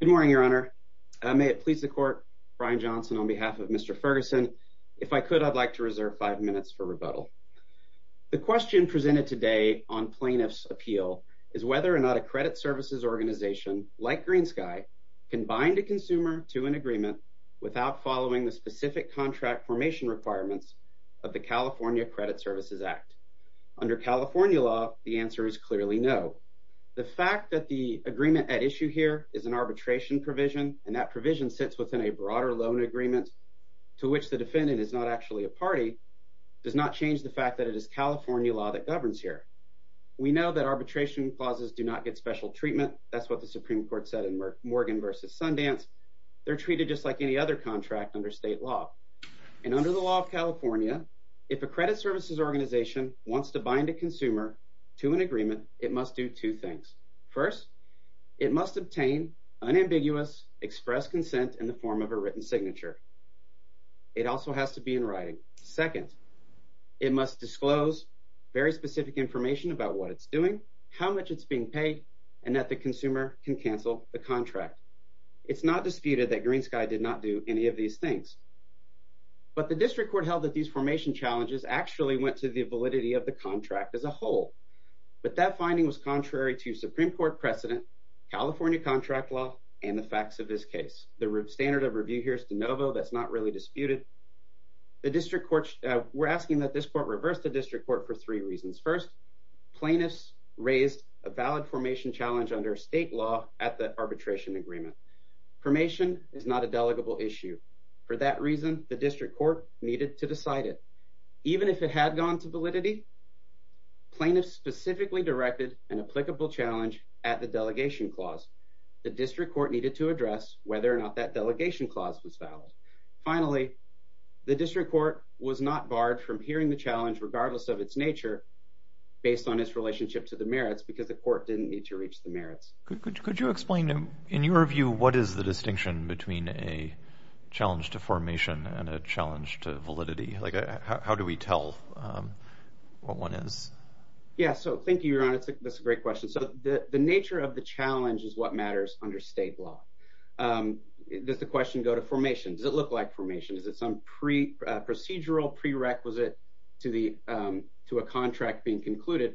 Good morning, Your Honor. May it please the Court, Brian Johnson on behalf of Mr. Ferguson, if I could, I'd like to reserve five minutes for rebuttal. The question presented today on plaintiff's appeal is whether or not a credit services organization like GreenSky can bind a consumer to an agreement without following the specific contract formation requirements of the California Credit Services Act. Under California law, the answer is clearly no. The fact that the agreement at issue here is an arbitration provision and that provision sits within a broader loan agreement to which the defendant is not actually a party does not change the fact that it is California law that governs here. We know that arbitration clauses do not get special treatment. That's what the Supreme Court said in Morgan v. Sundance. They're treated just like any other contract under state law. And under the law of California, a credit services organization wants to bind a consumer to an agreement, it must do two things. First, it must obtain unambiguous express consent in the form of a written signature. It also has to be in writing. Second, it must disclose very specific information about what it's doing, how much it's being paid, and that the consumer can cancel the contract. It's not disputed that challenges actually went to the validity of the contract as a whole. But that finding was contrary to Supreme Court precedent, California contract law, and the facts of this case. The standard of review here is de novo, that's not really disputed. We're asking that this court reverse the district court for three reasons. First, plaintiffs raised a valid formation challenge under state law at the arbitration agreement. Formation is not a delegable issue. For that reason, the district court needed to decide it. Even if it had gone to validity, plaintiffs specifically directed an applicable challenge at the delegation clause. The district court needed to address whether or not that delegation clause was valid. Finally, the district court was not barred from hearing the challenge regardless of its nature, based on its relationship to the merits, because the court didn't need to reach the merits. Could you explain in your view, what is the distinction between a challenge to validity? How do we tell what one is? Yeah, so thank you, Your Honor. That's a great question. So the nature of the challenge is what matters under state law. Does the question go to formation? Does it look like formation? Is it some procedural prerequisite to a contract being concluded?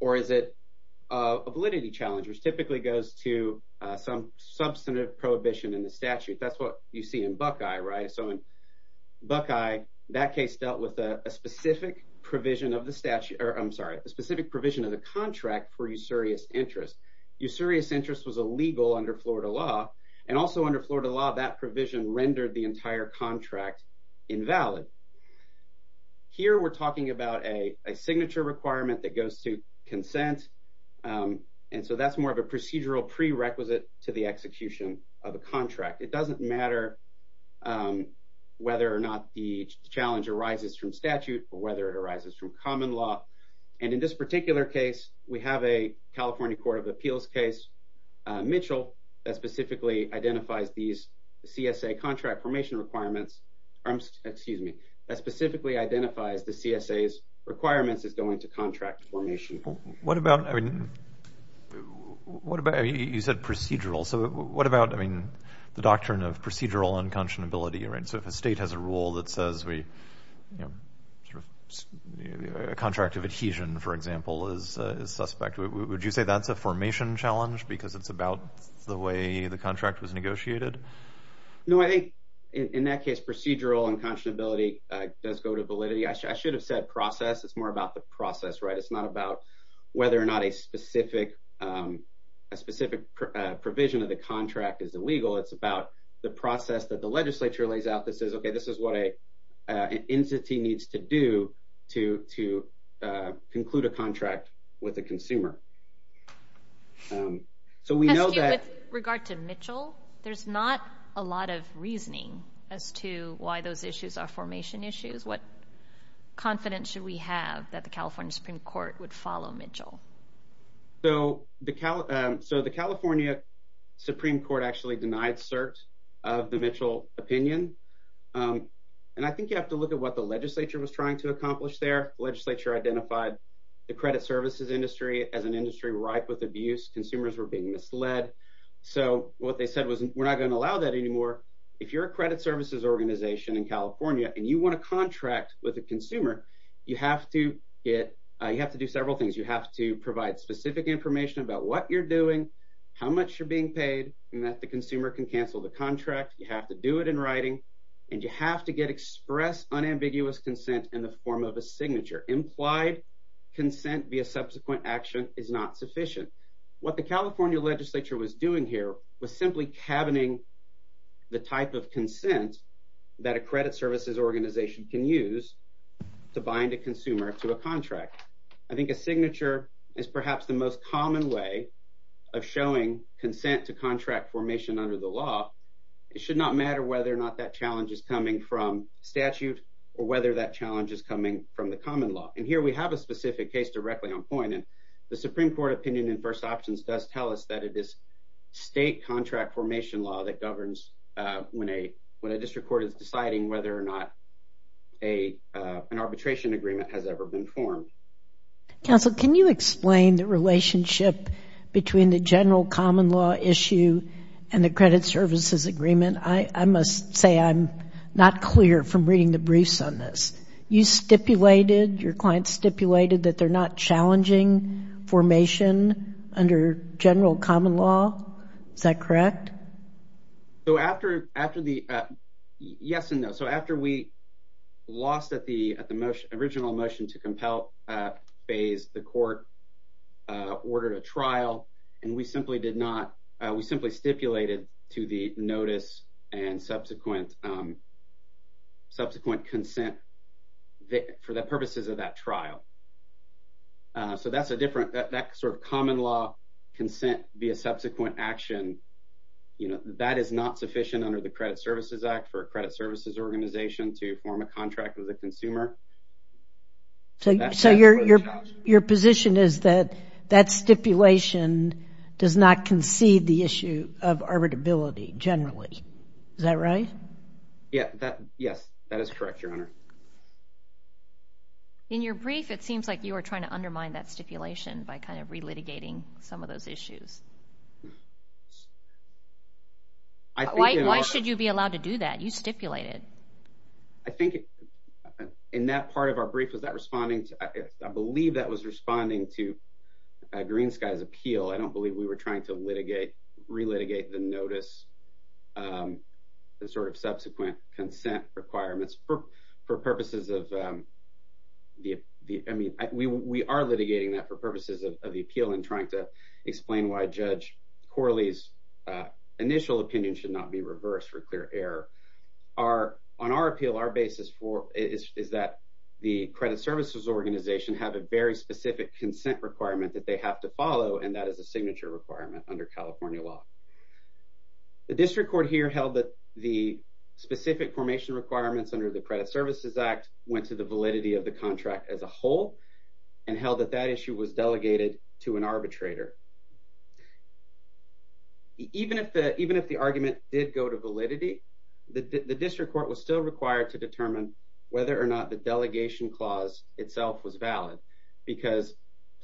Or is it a validity challenge, which typically goes to some substantive prohibition in the statute? That's what you see in Buckeye, right? So in Buckeye, that case dealt with a specific provision of the statute, or I'm sorry, a specific provision of the contract for usurious interest. Usurious interest was illegal under Florida law. And also under Florida law, that provision rendered the entire contract invalid. Here, we're talking about a signature requirement that goes to consent. And so that's more of a procedural prerequisite to the execution of a contract. It doesn't matter whether or not the challenge arises from statute or whether it arises from common law. And in this particular case, we have a California Court of Appeals case, Mitchell, that specifically identifies these CSA contract formation requirements, or excuse me, that specifically identifies the CSA's requirements as going to contract formation. What about, I mean, you said procedural. So what about, I mean, the doctrine of procedural unconscionability, right? So if a state has a rule that says a contract of adhesion, for example, is suspect, would you say that's a formation challenge because it's about the way the contract was negotiated? No, I think in that case, procedural unconscionability does go to validity. I should have said process. It's more about the process, right? It's not about whether or not a specific provision of the contract is illegal. It's about the process that the legislature lays out that says, okay, this is what an entity needs to do to conclude a contract with a consumer. So we know that... With regard to Mitchell, there's not a lot of reasoning as to why those issues are formation issues. What confidence should we have that the California Supreme Court would follow Mitchell? So the California Supreme Court actually denied cert of the Mitchell opinion. And I think you have to look at what the legislature was trying to accomplish there. Legislature identified the credit services industry as an industry ripe with abuse. Consumers were being misled. So what they said was, we're not going to allow that anymore. If you're a credit services organization in a contract with a consumer, you have to do several things. You have to provide specific information about what you're doing, how much you're being paid, and that the consumer can cancel the contract. You have to do it in writing. And you have to get express unambiguous consent in the form of a signature. Implied consent via subsequent action is not sufficient. What the California legislature was doing here was simply cabining the type of consent that a credit services organization can use to bind a consumer to a contract. I think a signature is perhaps the most common way of showing consent to contract formation under the law. It should not matter whether or not that challenge is coming from statute or whether that challenge is coming from the common law. And here we have a specific case directly on point. And the Supreme Court opinion in first options does tell us that it is state contract formation law that governs when a district court is deciding whether or not an arbitration agreement has ever been formed. Counsel, can you explain the relationship between the general common law issue and the credit services agreement? I must say I'm not clear from reading the briefs on this. You stipulated, your client stipulated that they're not challenging formation under general common law. Is that yes and no? So after we lost at the original motion to compel phase, the court ordered a trial and we simply did not, we simply stipulated to the notice and subsequent consent for the purposes of that trial. So that's a different, that sort of common law consent via subsequent action, that is not sufficient under the credit services act for a credit services organization to form a contract with a consumer. So your position is that that stipulation does not concede the issue of arbitrability generally. Is that right? Yes, that is correct, your honor. In your brief, it seems like you were trying to undermine that stipulation by kind of re-litigating some of those issues. Why should you be allowed to do that? You stipulated. I think in that part of our brief, was that responding to, I believe that was responding to Green Sky's appeal. I don't believe we were trying to litigate, re-litigate the notice, the sort of subsequent consent requirements for purposes of the, I mean, we are litigating that for purposes of the appeal and trying to explain why Judge Corley's initial opinion should not be reversed for clear error. Our, on our appeal, our basis for, is that the credit services organization have a very specific consent requirement that they have to follow and that is a signature requirement under California law. The district court here held that the specific formation requirements under the credit services act went to the validity of the contract as a whole and held that that issue was delegated to an arbitrator. Even if the, even if the argument did go to validity, the district court was still required to determine whether or not the delegation clause itself was valid because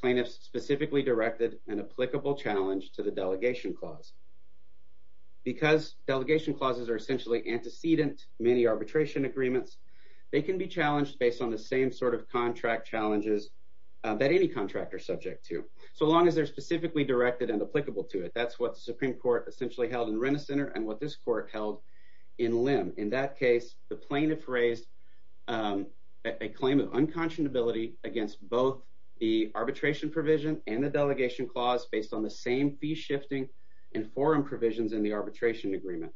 plaintiffs specifically directed an applicable challenge to the delegation clause. Because delegation clauses are essentially antecedent many arbitration agreements, they can be challenged based on the same sort of contract challenges that any contract are subject to, so long as they're specifically directed and applicable to it. That's what the Supreme Court essentially held in Renner Center and what this court held in Lim. In that case, the plaintiff raised a claim of unconscionability against both the arbitration provision and the delegation clause based on the same fee shifting and forum provisions in the arbitration agreement.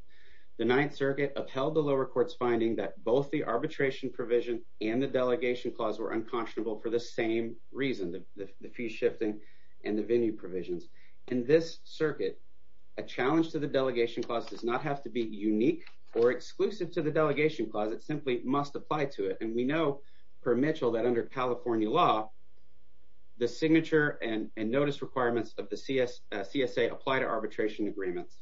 The Ninth Circuit upheld the lower court's finding that both the arbitration provision and the delegation clause were unconscionable for the same reason, the fee shifting and the venue provisions. In this circuit, a challenge to the delegation clause does not have to be unique or exclusive to the delegation clause, it simply must apply to it. And we know per Mitchell that under California law, the signature and notice requirements of the CSA apply to arbitration agreements.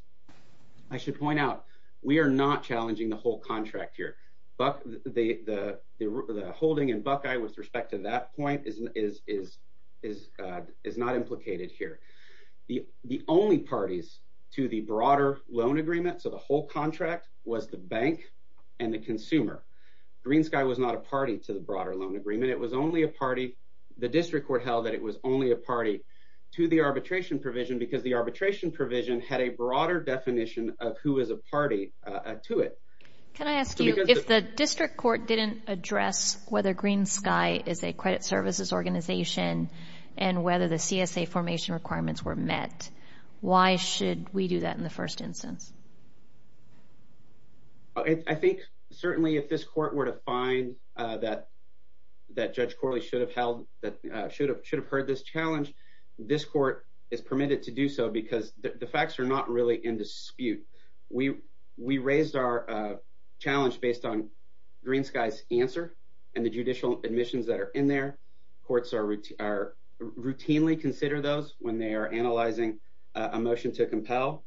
I should point out, we are not challenging the whole contract here, but the holding in Buckeye with respect to that point is not implicated here. The only parties to the broader loan agreement, so the whole contract, was the bank and the consumer. Green Sky was not a party to the broader loan agreement, it was only a party, the district court held that it was only a party to the arbitration provision had a broader definition of who is a party to it. Can I ask you, if the district court didn't address whether Green Sky is a credit services organization and whether the CSA formation requirements were met, why should we do that in the first instance? I think certainly if this court were to find that Judge Corley should have held, that should have heard this challenge, this court is permitted to do so because the facts are not really in dispute. We raised our challenge based on Green Sky's answer and the judicial admissions that are in there. Courts routinely consider those when they are analyzing a motion to compel.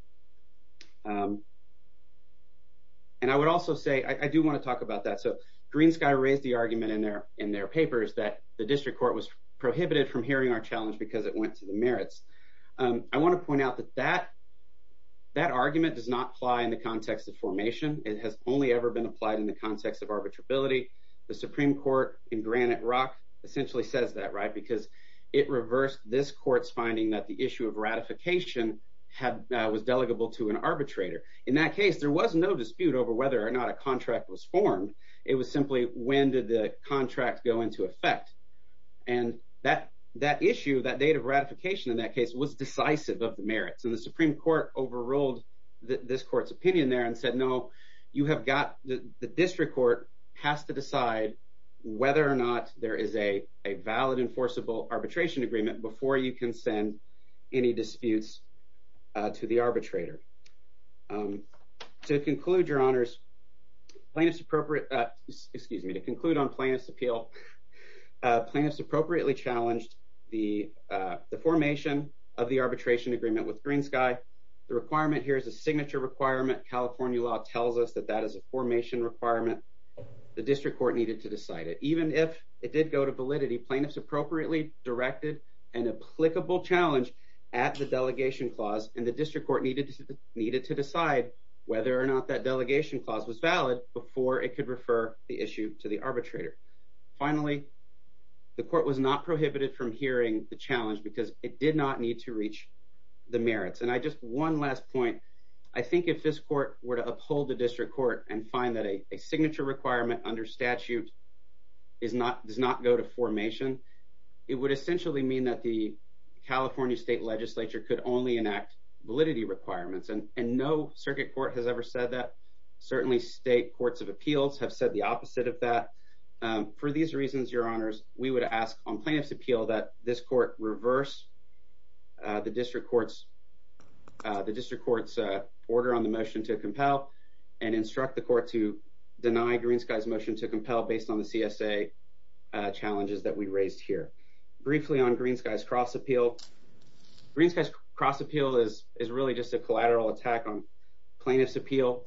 And I would also say, I do want to talk about that. So Green Sky raised the argument in their papers that the district court was prohibited from hearing our challenge because it went to the merits. I want to point out that that argument does not apply in the context of formation, it has only ever been applied in the context of arbitrability. The Supreme Court in Granite Rock essentially says that, right? Because it reversed this court's finding that the issue of ratification was delegable to an arbitrator. In that case, there was no dispute over whether or not a contract go into effect. And that issue, that date of ratification in that case was decisive of the merits. And the Supreme Court overruled this court's opinion there and said, no, you have got, the district court has to decide whether or not there is a valid enforceable arbitration agreement before you can send any disputes to the arbitrator. To conclude, your honors, plaintiff's appropriate, excuse me, to conclude on plaintiff's appeal, plaintiffs appropriately challenged the formation of the arbitration agreement with Green Sky. The requirement here is a signature requirement. California law tells us that that is a formation requirement. The district court needed to decide it. Even if it did go to validity, plaintiffs appropriately directed an applicable challenge at the delegation clause and the needed to decide whether or not that delegation clause was valid before it could refer the issue to the arbitrator. Finally, the court was not prohibited from hearing the challenge because it did not need to reach the merits. And I just, one last point, I think if this court were to uphold the district court and find that a signature requirement under statute is not, does not go to formation, it would essentially mean that the California state legislature could only enact validity requirements. And no circuit court has ever said that. Certainly state courts of appeals have said the opposite of that. For these reasons, your honors, we would ask on plaintiff's appeal that this court reverse the district court's order on the motion to compel and instruct the court to deny Green Sky's motion to compel based on the CSA challenges that we raised here. Briefly on Green Sky's cross appeal. Green Sky's cross appeal is really just a collateral attack on plaintiff's appeal.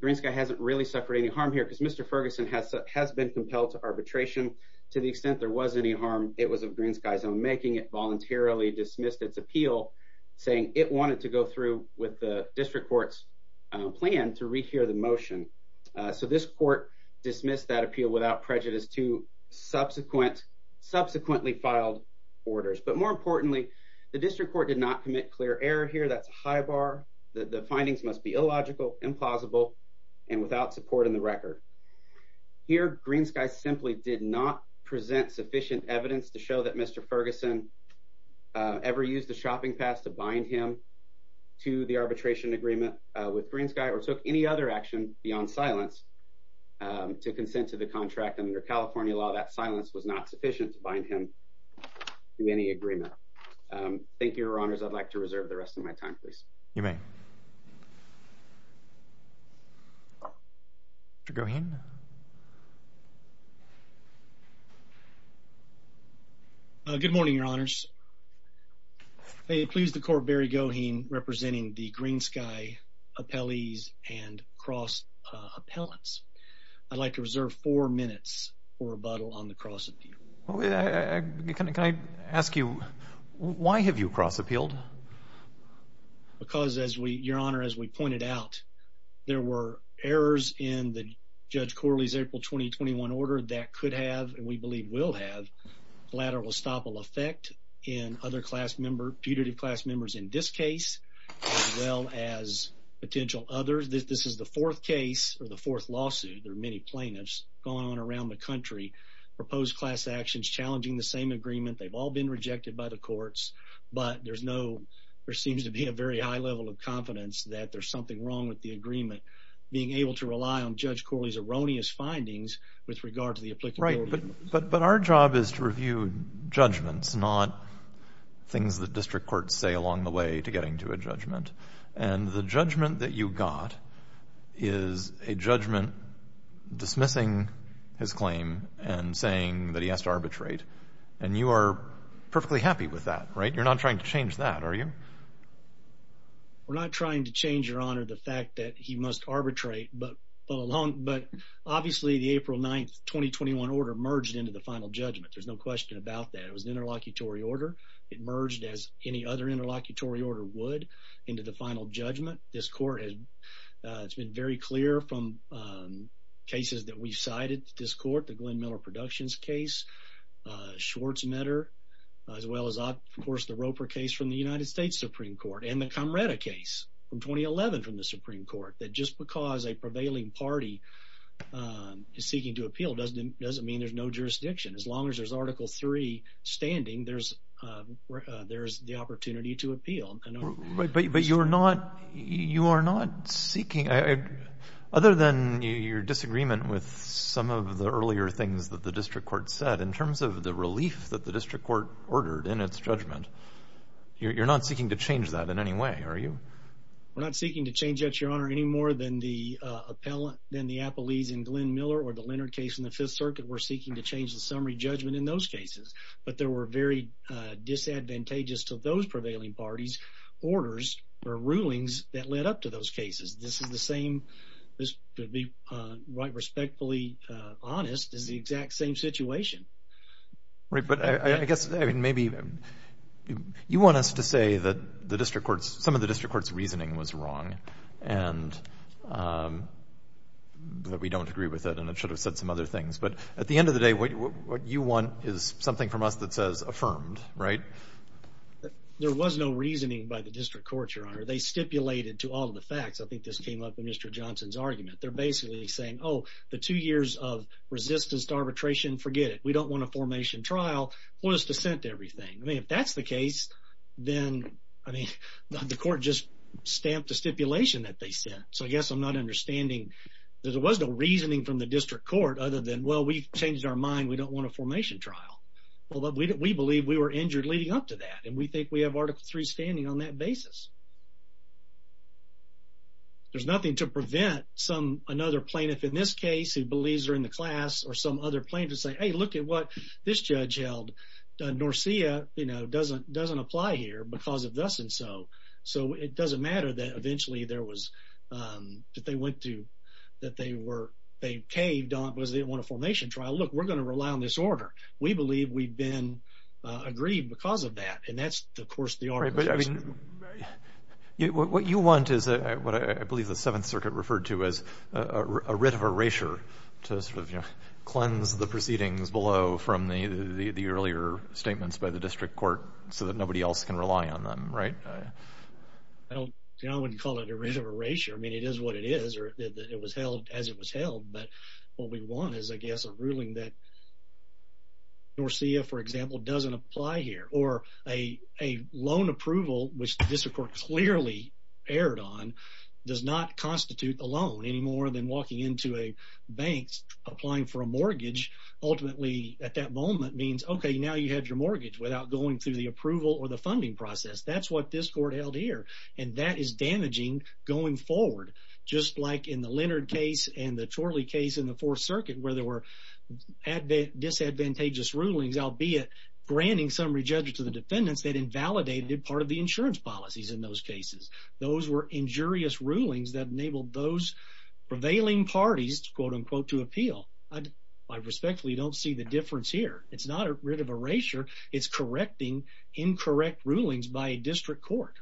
Green Sky hasn't really suffered any harm here because Mr. Ferguson has been compelled to arbitration. To the extent there was any harm, it was of Green Sky's own making. It voluntarily dismissed its appeal saying it wanted to go through with the district court's plan to rehear the motion. So this court dismissed that appeal without prejudice to subsequently filed orders. But more importantly, the district court did not commit clear error here. That's a high bar. The findings must be illogical, implausible, and without support in the record. Here, Green Sky simply did not present sufficient evidence to show that Mr. Ferguson ever used the shopping pass to bind him to the arbitration agreement with Green Sky or took any other action beyond silence to consent to the contract. Under California law, that silence was not sufficient to bind him. To any agreement. Thank you, your honors. I'd like to reserve the rest of my time, please. You may. Mr. Goheen. Good morning, your honors. May it please the court, Barry Goheen representing the Green Sky appellees and cross appellants. I'd like to reserve four minutes for rebuttal on the cross appeal. Can I ask you, why have you cross appealed? Because as we, your honor, as we pointed out, there were errors in the Judge Corley's April 2021 order that could have, and we believe will have, collateral estoppel effect in other class member, putative class members in this case, as well as potential others. This is the fourth case or the fourth lawsuit. There are many plaintiffs going on around the country. Proposed class actions challenging the same agreement. They've all been rejected by the courts, but there's no, there seems to be a very high level of confidence that there's something wrong with the agreement. Being able to rely on Judge Corley's erroneous findings with regard to the applicable. Right, but our job is to review judgments, not things that district courts say along the way to getting to a judgment. And the judgment that you got is a judgment dismissing his claim and saying that he has to arbitrate. And you are perfectly happy with that, right? You're not trying to change that, are you? We're not trying to change, your honor, the fact that he must arbitrate, but obviously the April 9th 2021 order merged into the final judgment. There's no question about that. It was an interlocutory order. It merged as any other interlocutory order would into the final judgment. This court has, it's been very clear from cases that we've cited this court, the Glenn Miller Productions case, Schwartzmetter, as well as, of course, the Roper case from the United States Supreme Court and the Comrata case from 2011 from the Supreme Court. That just because a prevailing party is seeking to appeal doesn't, doesn't mean there's no jurisdiction. As long as there's article three standing, there's, there's the opportunity to appeal. But you're not, you are not seeking, other than your disagreement with some of the earlier things that the district court said in terms of the relief that the district court ordered in its judgment. You're not seeking to change that in any way, are you? We're not seeking to change that, your honor, any more than the appellate, than the appellees in Glenn Miller or the Leonard case in the Fifth Circuit. We're very, uh, disadvantageous to those prevailing parties' orders or rulings that led up to those cases. This is the same, this, to be, uh, right, respectfully, uh, honest, is the exact same situation. Right, but I, I guess, I mean, maybe you want us to say that the district court's, some of the district court's reasoning was wrong and, um, that we don't agree with it, and it should have said some other things. But at the end of the day, what, what you want is something from us that says affirmed, right? There was no reasoning by the district court, your honor. They stipulated to all of the facts. I think this came up in Mr. Johnson's argument. They're basically saying, oh, the two years of resistance to arbitration, forget it. We don't want a formation trial. We'll just dissent to everything. I mean, if that's the case, then, I mean, the court just stamped a stipulation that they sent. So I guess I'm not understanding that there was no reasoning from the district court other than, well, we've changed our mind. We don't want a formation trial. Well, we believe we were injured leading up to that, and we think we have Article III standing on that basis. There's nothing to prevent some, another plaintiff in this case who believes they're in the class or some other plaintiff to say, hey, look at what this judge held. Uh, Norcia, you know, doesn't, doesn't apply here because of thus and so. So it doesn't matter that eventually there was, that they went to, that they were, they caved on because they didn't want a formation trial. Look, we're going to rely on this order. We believe we've been agreed because of that, and that's, of course, the article. What you want is what I believe the Seventh Circuit referred to as a writ of erasure to sort of, you know, cleanse the proceedings below from the earlier statements by the district court so that nobody else can rely on them, right? I don't, you know, I wouldn't call it a writ of erasure. I mean, it is what it is, or it was held as it was held, but what we want is, I guess, a ruling that Norcia, for example, doesn't apply here, or a loan approval, which the district court clearly erred on, does not constitute a loan any more than walking into a bank, applying for a mortgage, ultimately at that moment means, okay, now you have your mortgage without going through the district court held here, and that is damaging going forward, just like in the Leonard case and the Chorley case in the Fourth Circuit where there were disadvantageous rulings, albeit granting summary judges to the defendants that invalidated part of the insurance policies in those cases. Those were injurious rulings that enabled those prevailing parties, quote, unquote, to appeal. I respectfully don't see the difference here. It's not a writ of erasure. It's correcting incorrect rulings by a district court.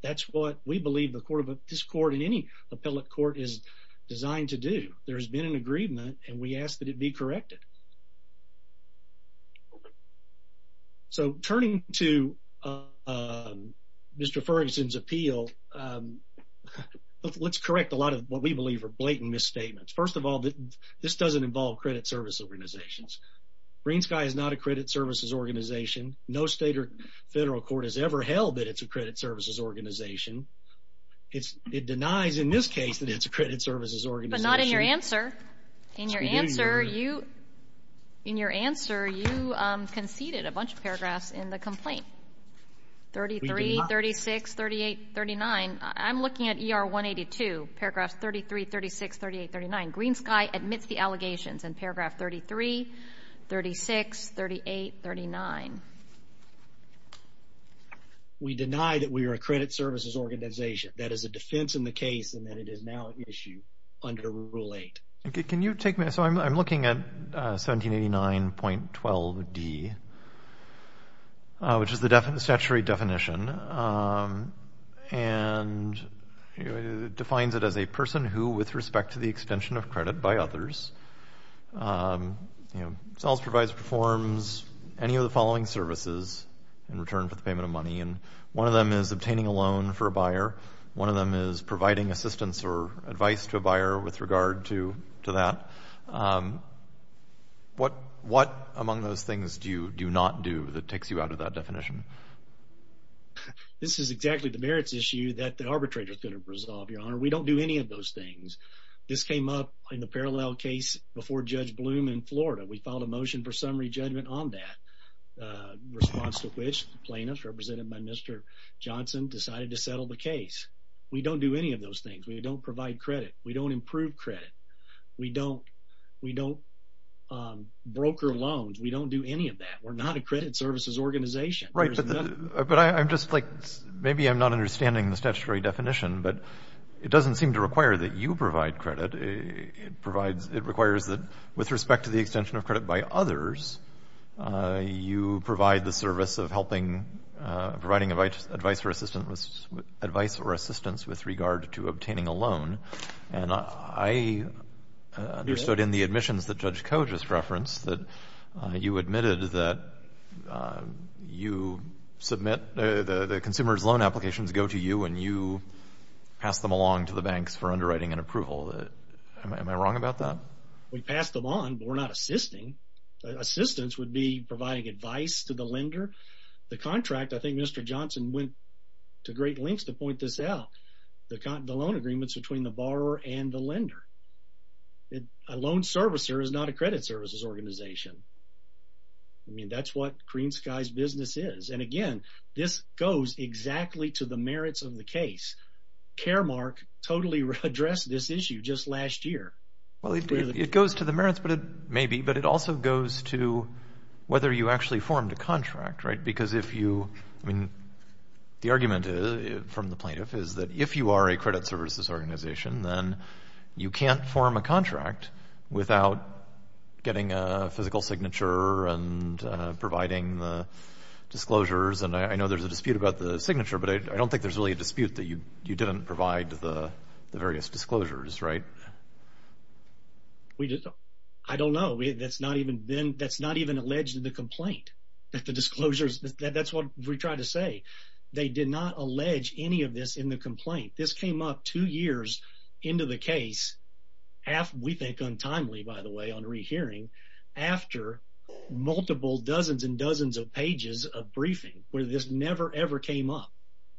That's what we believe this court and any appellate court is designed to do. There has been an agreement, and we ask that it be corrected. So, turning to Mr. Ferguson's appeal, let's correct a lot of what we believe are blatant misstatements. First of all, this doesn't involve credit service organizations. Greensky is not a credit services organization. No state or federal court has ever held that it's a credit services organization. It denies, in this case, that it's a credit services organization. But not in your answer. In your answer, you conceded a bunch of paragraphs in the complaint, 33, 36, 38, 39. I'm looking at ER 182, paragraphs 33, 36, 38, 39. Greensky admits the allegations in paragraph 33, 36, 38, 39. We deny that we are a credit services organization. That is a defense in the case, and that it is now at issue under Rule 8. Okay, can you take me, so I'm looking at 1789.12d, which is the statutory definition, and it defines it as a person who, with respect to extension of credit by others, sells, provides, performs any of the following services in return for the payment of money. And one of them is obtaining a loan for a buyer. One of them is providing assistance or advice to a buyer with regard to that. What among those things do you do not do that takes you out of that definition? This is exactly the merits issue that the in the parallel case before Judge Bloom in Florida. We filed a motion for summary judgment on that, response to which plaintiffs, represented by Mr. Johnson, decided to settle the case. We don't do any of those things. We don't provide credit. We don't improve credit. We don't broker loans. We don't do any of that. We're not a credit services organization. Right, but I'm just like, maybe I'm not understanding the statutory definition, but it doesn't seem to require that you provide credit. It requires that with respect to the extension of credit by others, you provide the service of helping, providing advice or assistance with regard to obtaining a loan. And I understood in the admissions that Judge Ko just referenced that you admitted that you submit the consumer's loan applications go to you and you pass them along to the banks for underwriting and approval. Am I wrong about that? We pass them on, but we're not assisting. Assistance would be providing advice to the lender. The contract, I think Mr. Johnson went to great lengths to point this out, the loan agreements between the borrower and the organization. I mean, that's what Green Sky's business is. And again, this goes exactly to the merits of the case. Caremark totally addressed this issue just last year. Well, it goes to the merits, but it may be, but it also goes to whether you actually formed a contract, right? Because if you, I mean, the argument from the plaintiff is that if you are a credit services organization, then you can't form a contract without getting a physical signature and providing the disclosures. And I know there's a dispute about the signature, but I don't think there's really a dispute that you didn't provide the various disclosures, right? I don't know. That's not even been, that's not even alleged in the complaint that the disclosures, that's what we tried to say. They did not allege any of this in the complaint. This came up two years into the case, half, we think untimely by the way, on rehearing after multiple dozens and dozens of pages of briefing where this never ever came up.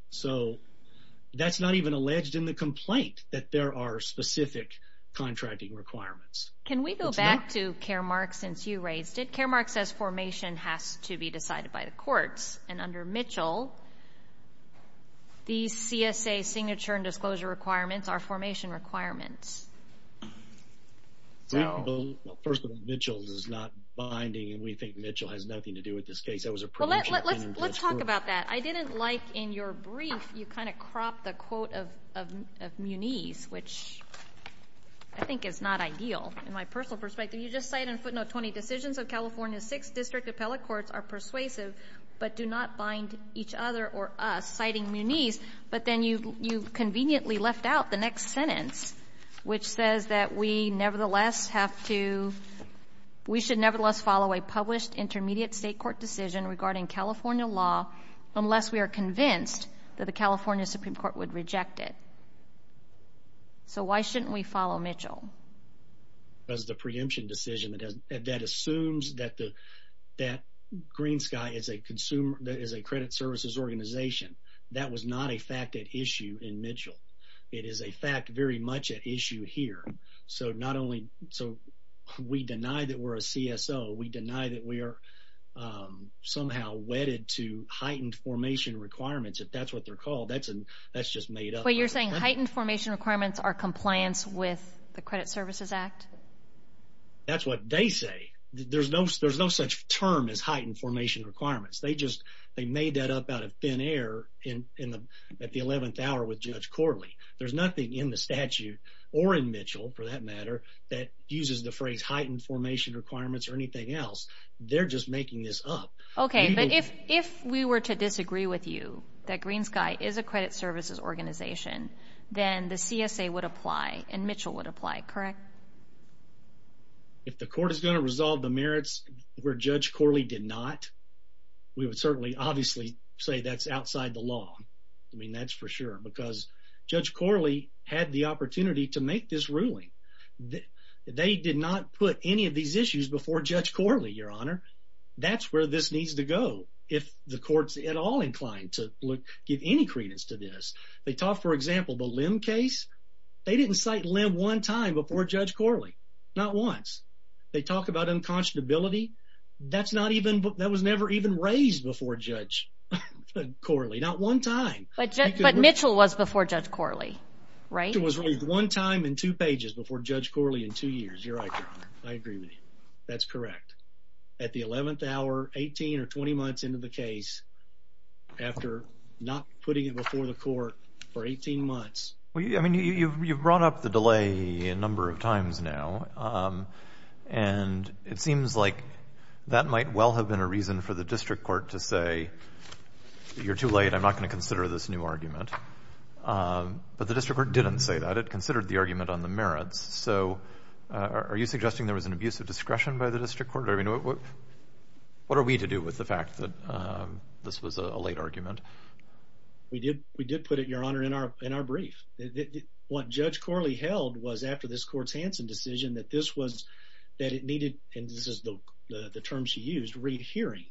So that's not even alleged in the complaint that there are specific contracting requirements. Can we go back to Caremark since you raised it? Caremark says formation has to be decided by the courts. And under Mitchell, these CSA signature and disclosure requirements are formation requirements. So first of all, Mitchell is not binding and we think Mitchell has nothing to do with this case. That was a presumption. Let's talk about that. I didn't like in your brief, you kind of cropped the quote of Muniz, which I think is not ideal. In my personal perspective, you just cite in district appellate courts are persuasive, but do not bind each other or us citing Muniz. But then you conveniently left out the next sentence, which says that we nevertheless have to, we should nevertheless follow a published intermediate state court decision regarding California law unless we are convinced that the California Supreme Court would reject it. So why shouldn't we follow Mitchell? Because the preemption decision that assumes that Greensky is a credit services organization. That was not a fact at issue in Mitchell. It is a fact very much at issue here. So not only, so we deny that we're a CSO, we deny that we are somehow wedded to heightened formation requirements. If that's what they're called, that's just made up. But you're saying heightened formation requirements are compliance with the credit services act. That's what they say. There's no, there's no such term as heightened formation requirements. They just, they made that up out of thin air in, in the, at the 11th hour with judge Corley. There's nothing in the statute or in Mitchell for that matter, that uses the phrase heightened formation requirements or anything else. They're just making this up. Okay. But if, if we were to disagree with you, that Greensky is a credit services organization, then the CSA would apply and Mitchell would apply, correct? If the court is going to resolve the merits where judge Corley did not, we would certainly obviously say that's outside the law. I mean, that's for sure, because judge Corley had the opportunity to make this ruling. They did not put any of these issues before judge Corley, your honor. That's where this needs to go. If the court's at all inclined to look, give any credence to this, they talk, for example, the limb case, they didn't cite limb one time before judge Corley, not once they talk about unconscionability. That's not even, that was never even raised before judge Corley, not one time, but Mitchell was before judge Corley, right? It was one time in two pages before judge Corley in two years. You're right. I agree with you. That's correct. At the 11th hour, 18 or 20 months into the case, after not putting it before the court for 18 months. I mean, you've brought up the delay a number of times now, and it seems like that might well have been a reason for the district court to say, you're too late, I'm not going to consider this new argument. But the district court didn't say that. It considered the argument on the merits. So are you suggesting there was an abuse of discretion by the district court? I mean, what are we to do with the fact that this was a late argument? We did put it, your honor, in our brief. What judge Corley held was after this court's Hanson decision that this was, that it needed, and this is the term she used, rehearing.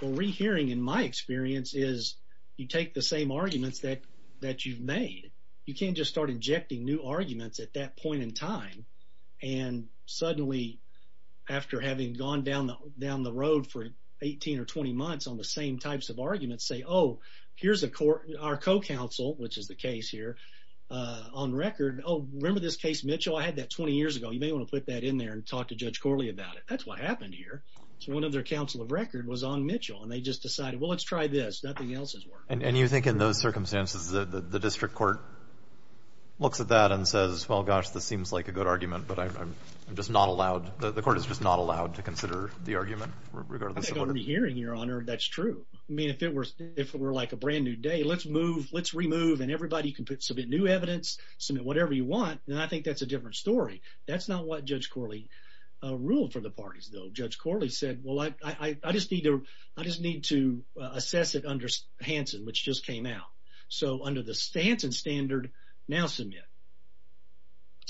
Well, rehearing, in my experience, is you take the same arguments that you've made. You can't just start injecting new arguments at that point in time, and suddenly, after having gone down the road for 18 or 20 months on the same types of arguments, say, oh, here's our co-counsel, which is the case here, on record. Oh, remember this case, Mitchell? I had that 20 years ago. You may want to put that in there and talk to judge Corley about it. That's what happened here. So one of their counsel of record was on Mitchell, and they just decided, well, let's try this. Nothing else has worked. And you think in those circumstances, the district court looks at that and says, well, gosh, this seems like a good argument, but I'm just not allowed, the court is just not allowed to consider the argument? Regarding the hearing, your honor, that's true. I mean, if it were like a brand new day, let's move, let's remove, and everybody can submit new evidence, submit whatever you want. And I think that's a different story. That's not what judge Corley ruled for the parties, though. Judge Corley said, well, I just need to assess it under Hansen, which just came out. So under the Hansen standard, now submit.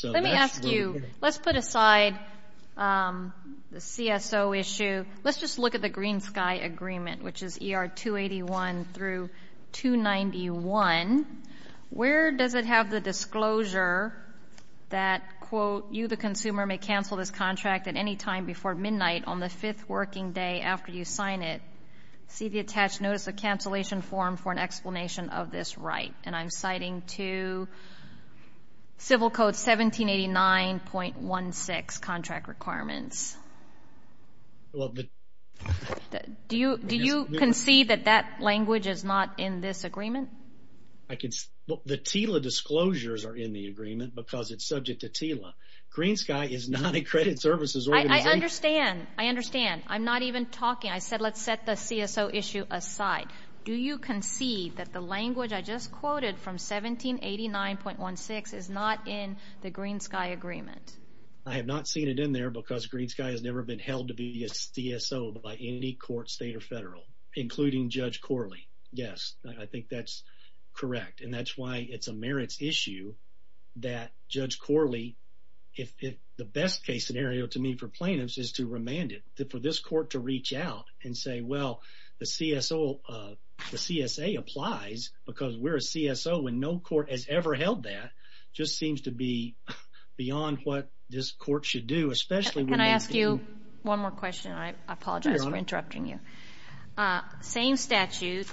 Let me ask you, let's put aside the CSO issue. Let's just look at the Green Sky Agreement, which is ER 281 through 291. Where does it have the disclosure that, quote, working day after you sign it, see the attached notice of cancellation form for an explanation of this right? And I'm citing to Civil Code 1789.16 contract requirements. Do you concede that that language is not in this agreement? The TILA disclosures are in the agreement because it's subject to TILA. Green Sky is not a credit services organization. I understand. I understand. I'm not even talking. I said, let's set the CSO issue aside. Do you concede that the language I just quoted from 1789.16 is not in the Green Sky Agreement? I have not seen it in there because Green Sky has never been held to be a CSO by any court, state, or federal, including Judge Corley. Yes, I think that's correct. And that's why it's a merits issue that Judge Corley, if the best case scenario to me for plaintiffs is to remand it, for this court to reach out and say, well, the CSO, the CSA applies because we're a CSO and no court has ever held that, just seems to be beyond what this court should do, especially... Can I ask you one more question? I apologize for interrupting you. Same statute.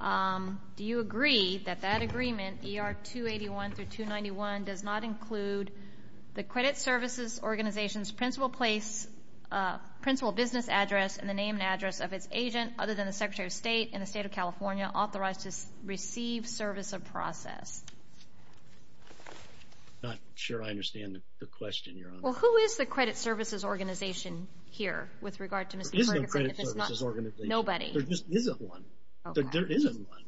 Do you agree that that agreement, ER 281 through 291, does not include the credit services organization's principal business address and the name and address of its agent other than the Secretary of State and the State of California authorized to receive service of process? I'm not sure I understand the question, Your Honor. Well, who is the credit services organization here with regard to Mr. Ferguson? There is no credit services organization. Nobody? There just isn't one. There isn't one.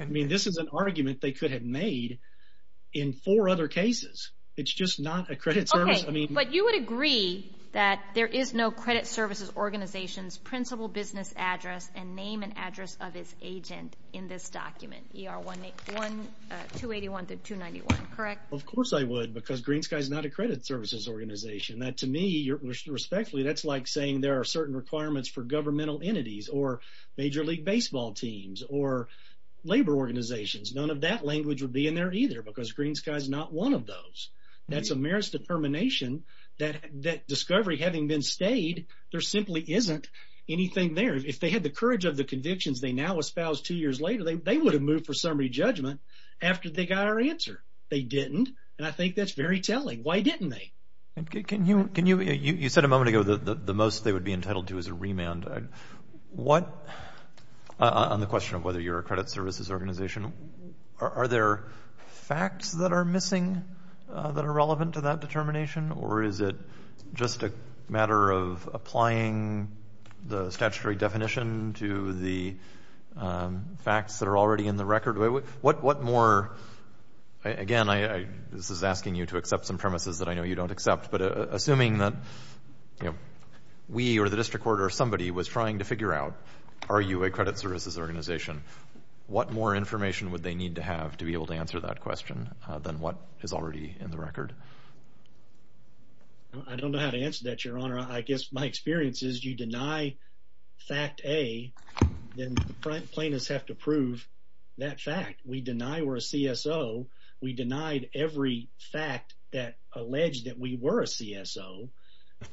I mean, this is an argument they could have made in four other cases. It's just not a credit service. Okay, but you would agree that there is no credit services organization's principal business address and name and address of its agent in this document, ER 281 through 291, correct? Of course I would, because Green Sky is not a credit services organization. That, to me, respectfully, that's like saying there are certain requirements for governmental entities or major league baseball teams or labor organizations. None of that language would be in there either, because Green Sky is not one of those. That's a meritorious determination that discovery having been stayed, there simply isn't anything there. If they had the courage of the convictions they now espouse two years later, they would have moved for summary judgment after they got our answer. They didn't, and I think that's very telling. Why didn't they? You said a moment ago the most they would be entitled to is a remand. On the question of whether you're a credit services organization, are there facts that are missing that are relevant to that determination, or is it just a matter of applying the statutory again? This is asking you to accept some premises that I know you don't accept, but assuming that we or the district court or somebody was trying to figure out, are you a credit services organization? What more information would they need to have to be able to answer that question than what is already in the record? I don't know how to answer that, Your Honor. I guess my experience is you deny fact A, then plaintiffs have to prove that fact. We deny we're a CSO. We denied every fact that alleged that we were a CSO,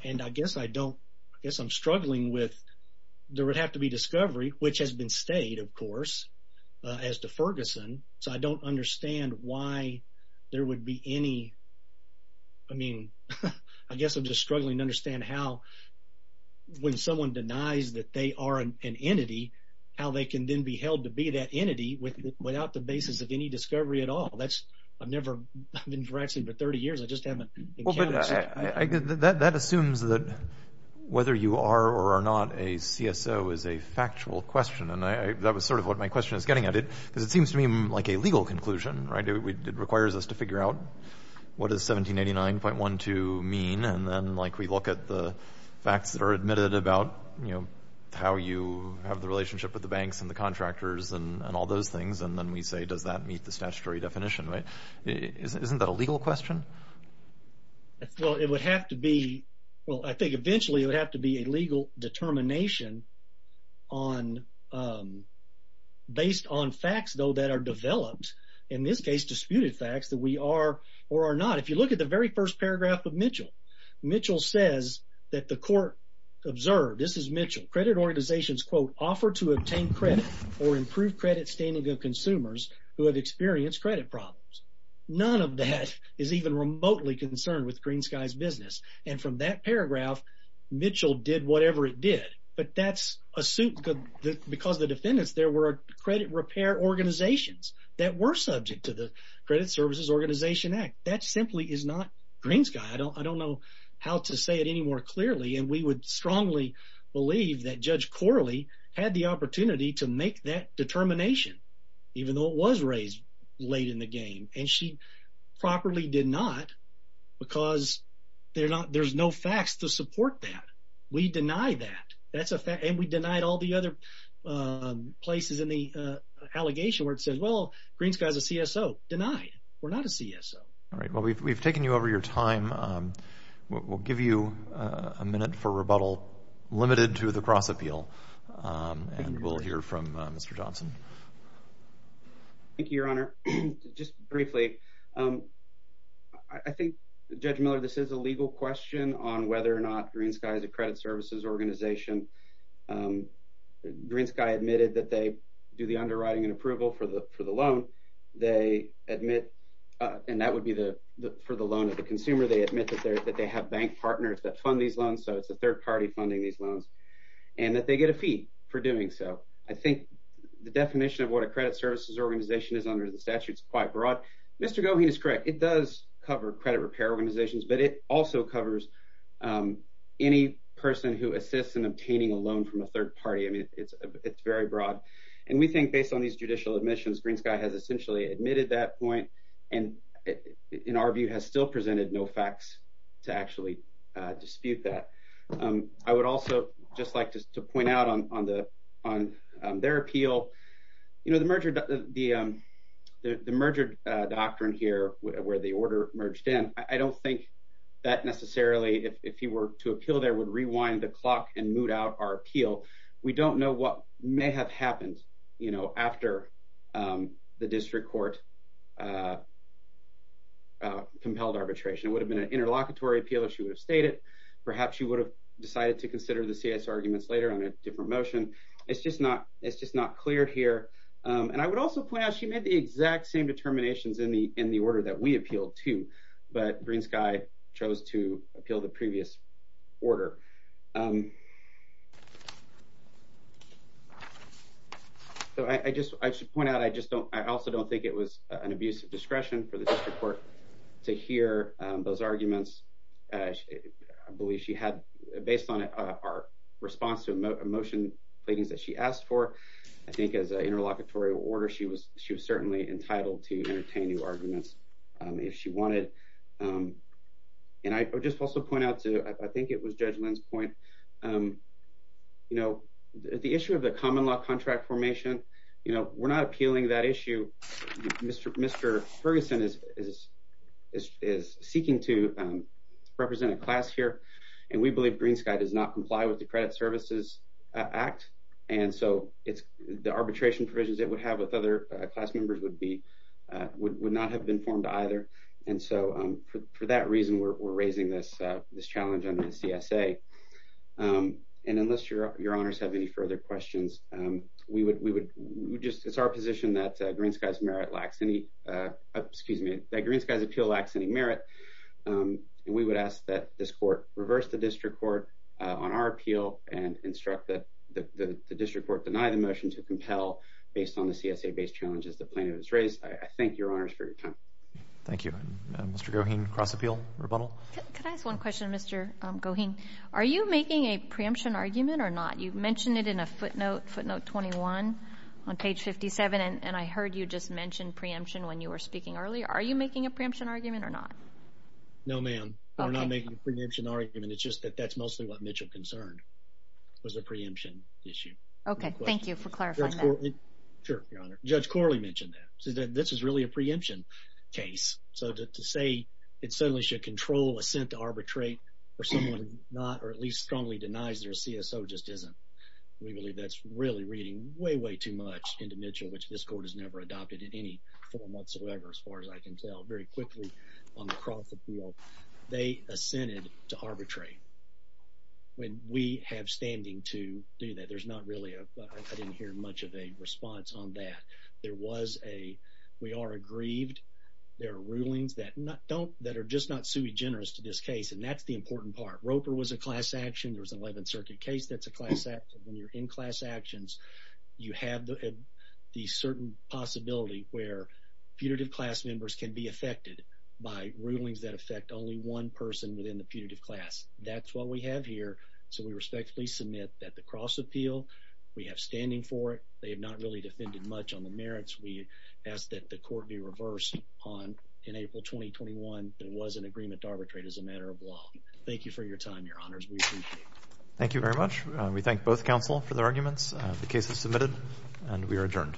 and I guess I don't, I guess I'm struggling with, there would have to be discovery, which has been stayed, of course, as to Ferguson, so I don't understand why there would be any, I mean, I guess I'm just struggling to understand how, when someone denies that they are an entity, how they can then be held to be that entity without the basis of any discovery at all. That's, I've never, I've been practicing for 30 years, I just haven't encountered that. That assumes that whether you are or are not a CSO is a factual question, and that was sort of what my question is getting at it, because it seems to me like a legal conclusion, right? It requires us to figure out what does 1789.12 mean, and then like we look at the facts that are admitted about, you know, how you have the relationship with the banks and the contractors and all those things, and then we say does that meet the statutory definition, right? Isn't that a legal question? Well, it would have to be, well, I think eventually it would have to be a legal determination on, based on facts, though, that are developed, in this case disputed facts that we are or are not. If you look at the very first paragraph of Mitchell, Mitchell says that the court observed, this is Mitchell, credit organizations, quote, offer to obtain credit or improve credit standing of consumers who have experienced credit problems. None of that is even remotely concerned with GreenSky's business, and from that paragraph, Mitchell did whatever it did, but that's a suit because the defendants there were credit repair organizations that were subject to the Credit Services Organization Act. That simply is not GreenSky. I don't know how to say it any more clearly, and we would strongly believe that Judge Corley had the opportunity to make that determination, even though it was raised late in the game, and she properly did not because there's no facts to support that. We deny that. That's a fact, and we denied all the other places in the CSO. All right, well, we've taken you over your time. We'll give you a minute for rebuttal limited to the cross-appeal, and we'll hear from Mr. Johnson. Thank you, Your Honor. Just briefly, I think, Judge Miller, this is a legal question on whether or not GreenSky is a credit services organization. GreenSky admitted that they do the underwriting and approval for the loan. They admit, and that would be for the loan of the consumer, they admit that they have bank partners that fund these loans, so it's a third party funding these loans, and that they get a fee for doing so. I think the definition of what a credit services organization is under the statute is quite broad. Mr. Goheen is correct. It does cover credit repair organizations, but it also covers any person who assists in obtaining a loan from a third party. I mean, it's very broad, and we think based on these judicial admissions, GreenSky has essentially admitted that point, and in our view, has still presented no facts to actually dispute that. I would also just like to point out on their appeal, you know, the merger doctrine here where the order merged in, I don't think that necessarily, if you were to appeal there, would rewind the clock and moot out our after the district court compelled arbitration. It would have been an interlocutory appeal, as she would have stated. Perhaps she would have decided to consider the CS arguments later on a different motion. It's just not clear here, and I would also point out she made the exact same determinations in the order that we appealed to, but GreenSky chose to appeal the previous order. So I just, I should point out, I just don't, I also don't think it was an abuse of discretion for the district court to hear those arguments. I believe she had, based on our response to a motion pleadings that she asked for, I think as an interlocutory order, she was certainly entitled to entertain new arguments if she wanted, and I would just also point out to, I think it was Judge Lynn's point, you know, the issue of the common law contract formation, you know, we're not appealing that issue. Mr. Ferguson is seeking to represent a class here, and we believe GreenSky does not comply with the Credit Services Act, and so it's, the arbitration provisions it would have with other class members would be, would not have been formed either, and so for that reason, we're raising this challenge under the CSA, and unless your honors have any further questions, we would, we would just, it's our position that GreenSky's merit lacks any, excuse me, that GreenSky's appeal lacks any merit, and we would ask that this court reverse the district court on our appeal and instruct that the district court deny the motion to compel based on the CSA-based challenges the plaintiff has raised. I thank your honors for your time. Thank you. Mr. Goheen, cross-appeal, rebuttal? Can I ask one question, Mr. Goheen? Are you making a preemption argument or not? You mentioned it in a footnote, footnote 21 on page 57, and I heard you just mention preemption when you were speaking earlier. Are you making a preemption argument or not? No, ma'am, we're not making a preemption argument. It's just that that's mostly what Mitchell concerned, was the preemption issue. Okay, thank you for clarifying that. Sure, your honor. Judge Corley mentioned that, this is really a preemption case, so to say it suddenly should control assent to arbitrate for someone not, or at least strongly denies their CSO just isn't. We believe that's really reading way, way too much into Mitchell, which this court has never adopted in any form whatsoever, as far as I can tell. Very quickly, on the cross-appeal, they assented to arbitrate. When we have standing to do that, there's not really a, I didn't hear much of a we are aggrieved. There are rulings that don't, that are just not sui generis to this case, and that's the important part. Roper was a class action. There was an 11th Circuit case that's a class action. When you're in class actions, you have the certain possibility where putative class members can be affected by rulings that affect only one person within the putative class. That's what we have here, so we respectfully submit that the cross-appeal, we have standing for it. They have not really defended much on the merits. We ask that the court be reversed on, in April 2021, there was an agreement to arbitrate as a matter of law. Thank you for your time, Your Honors. We appreciate it. Thank you very much. We thank both counsel for their arguments. The case is submitted, and we are adjourned.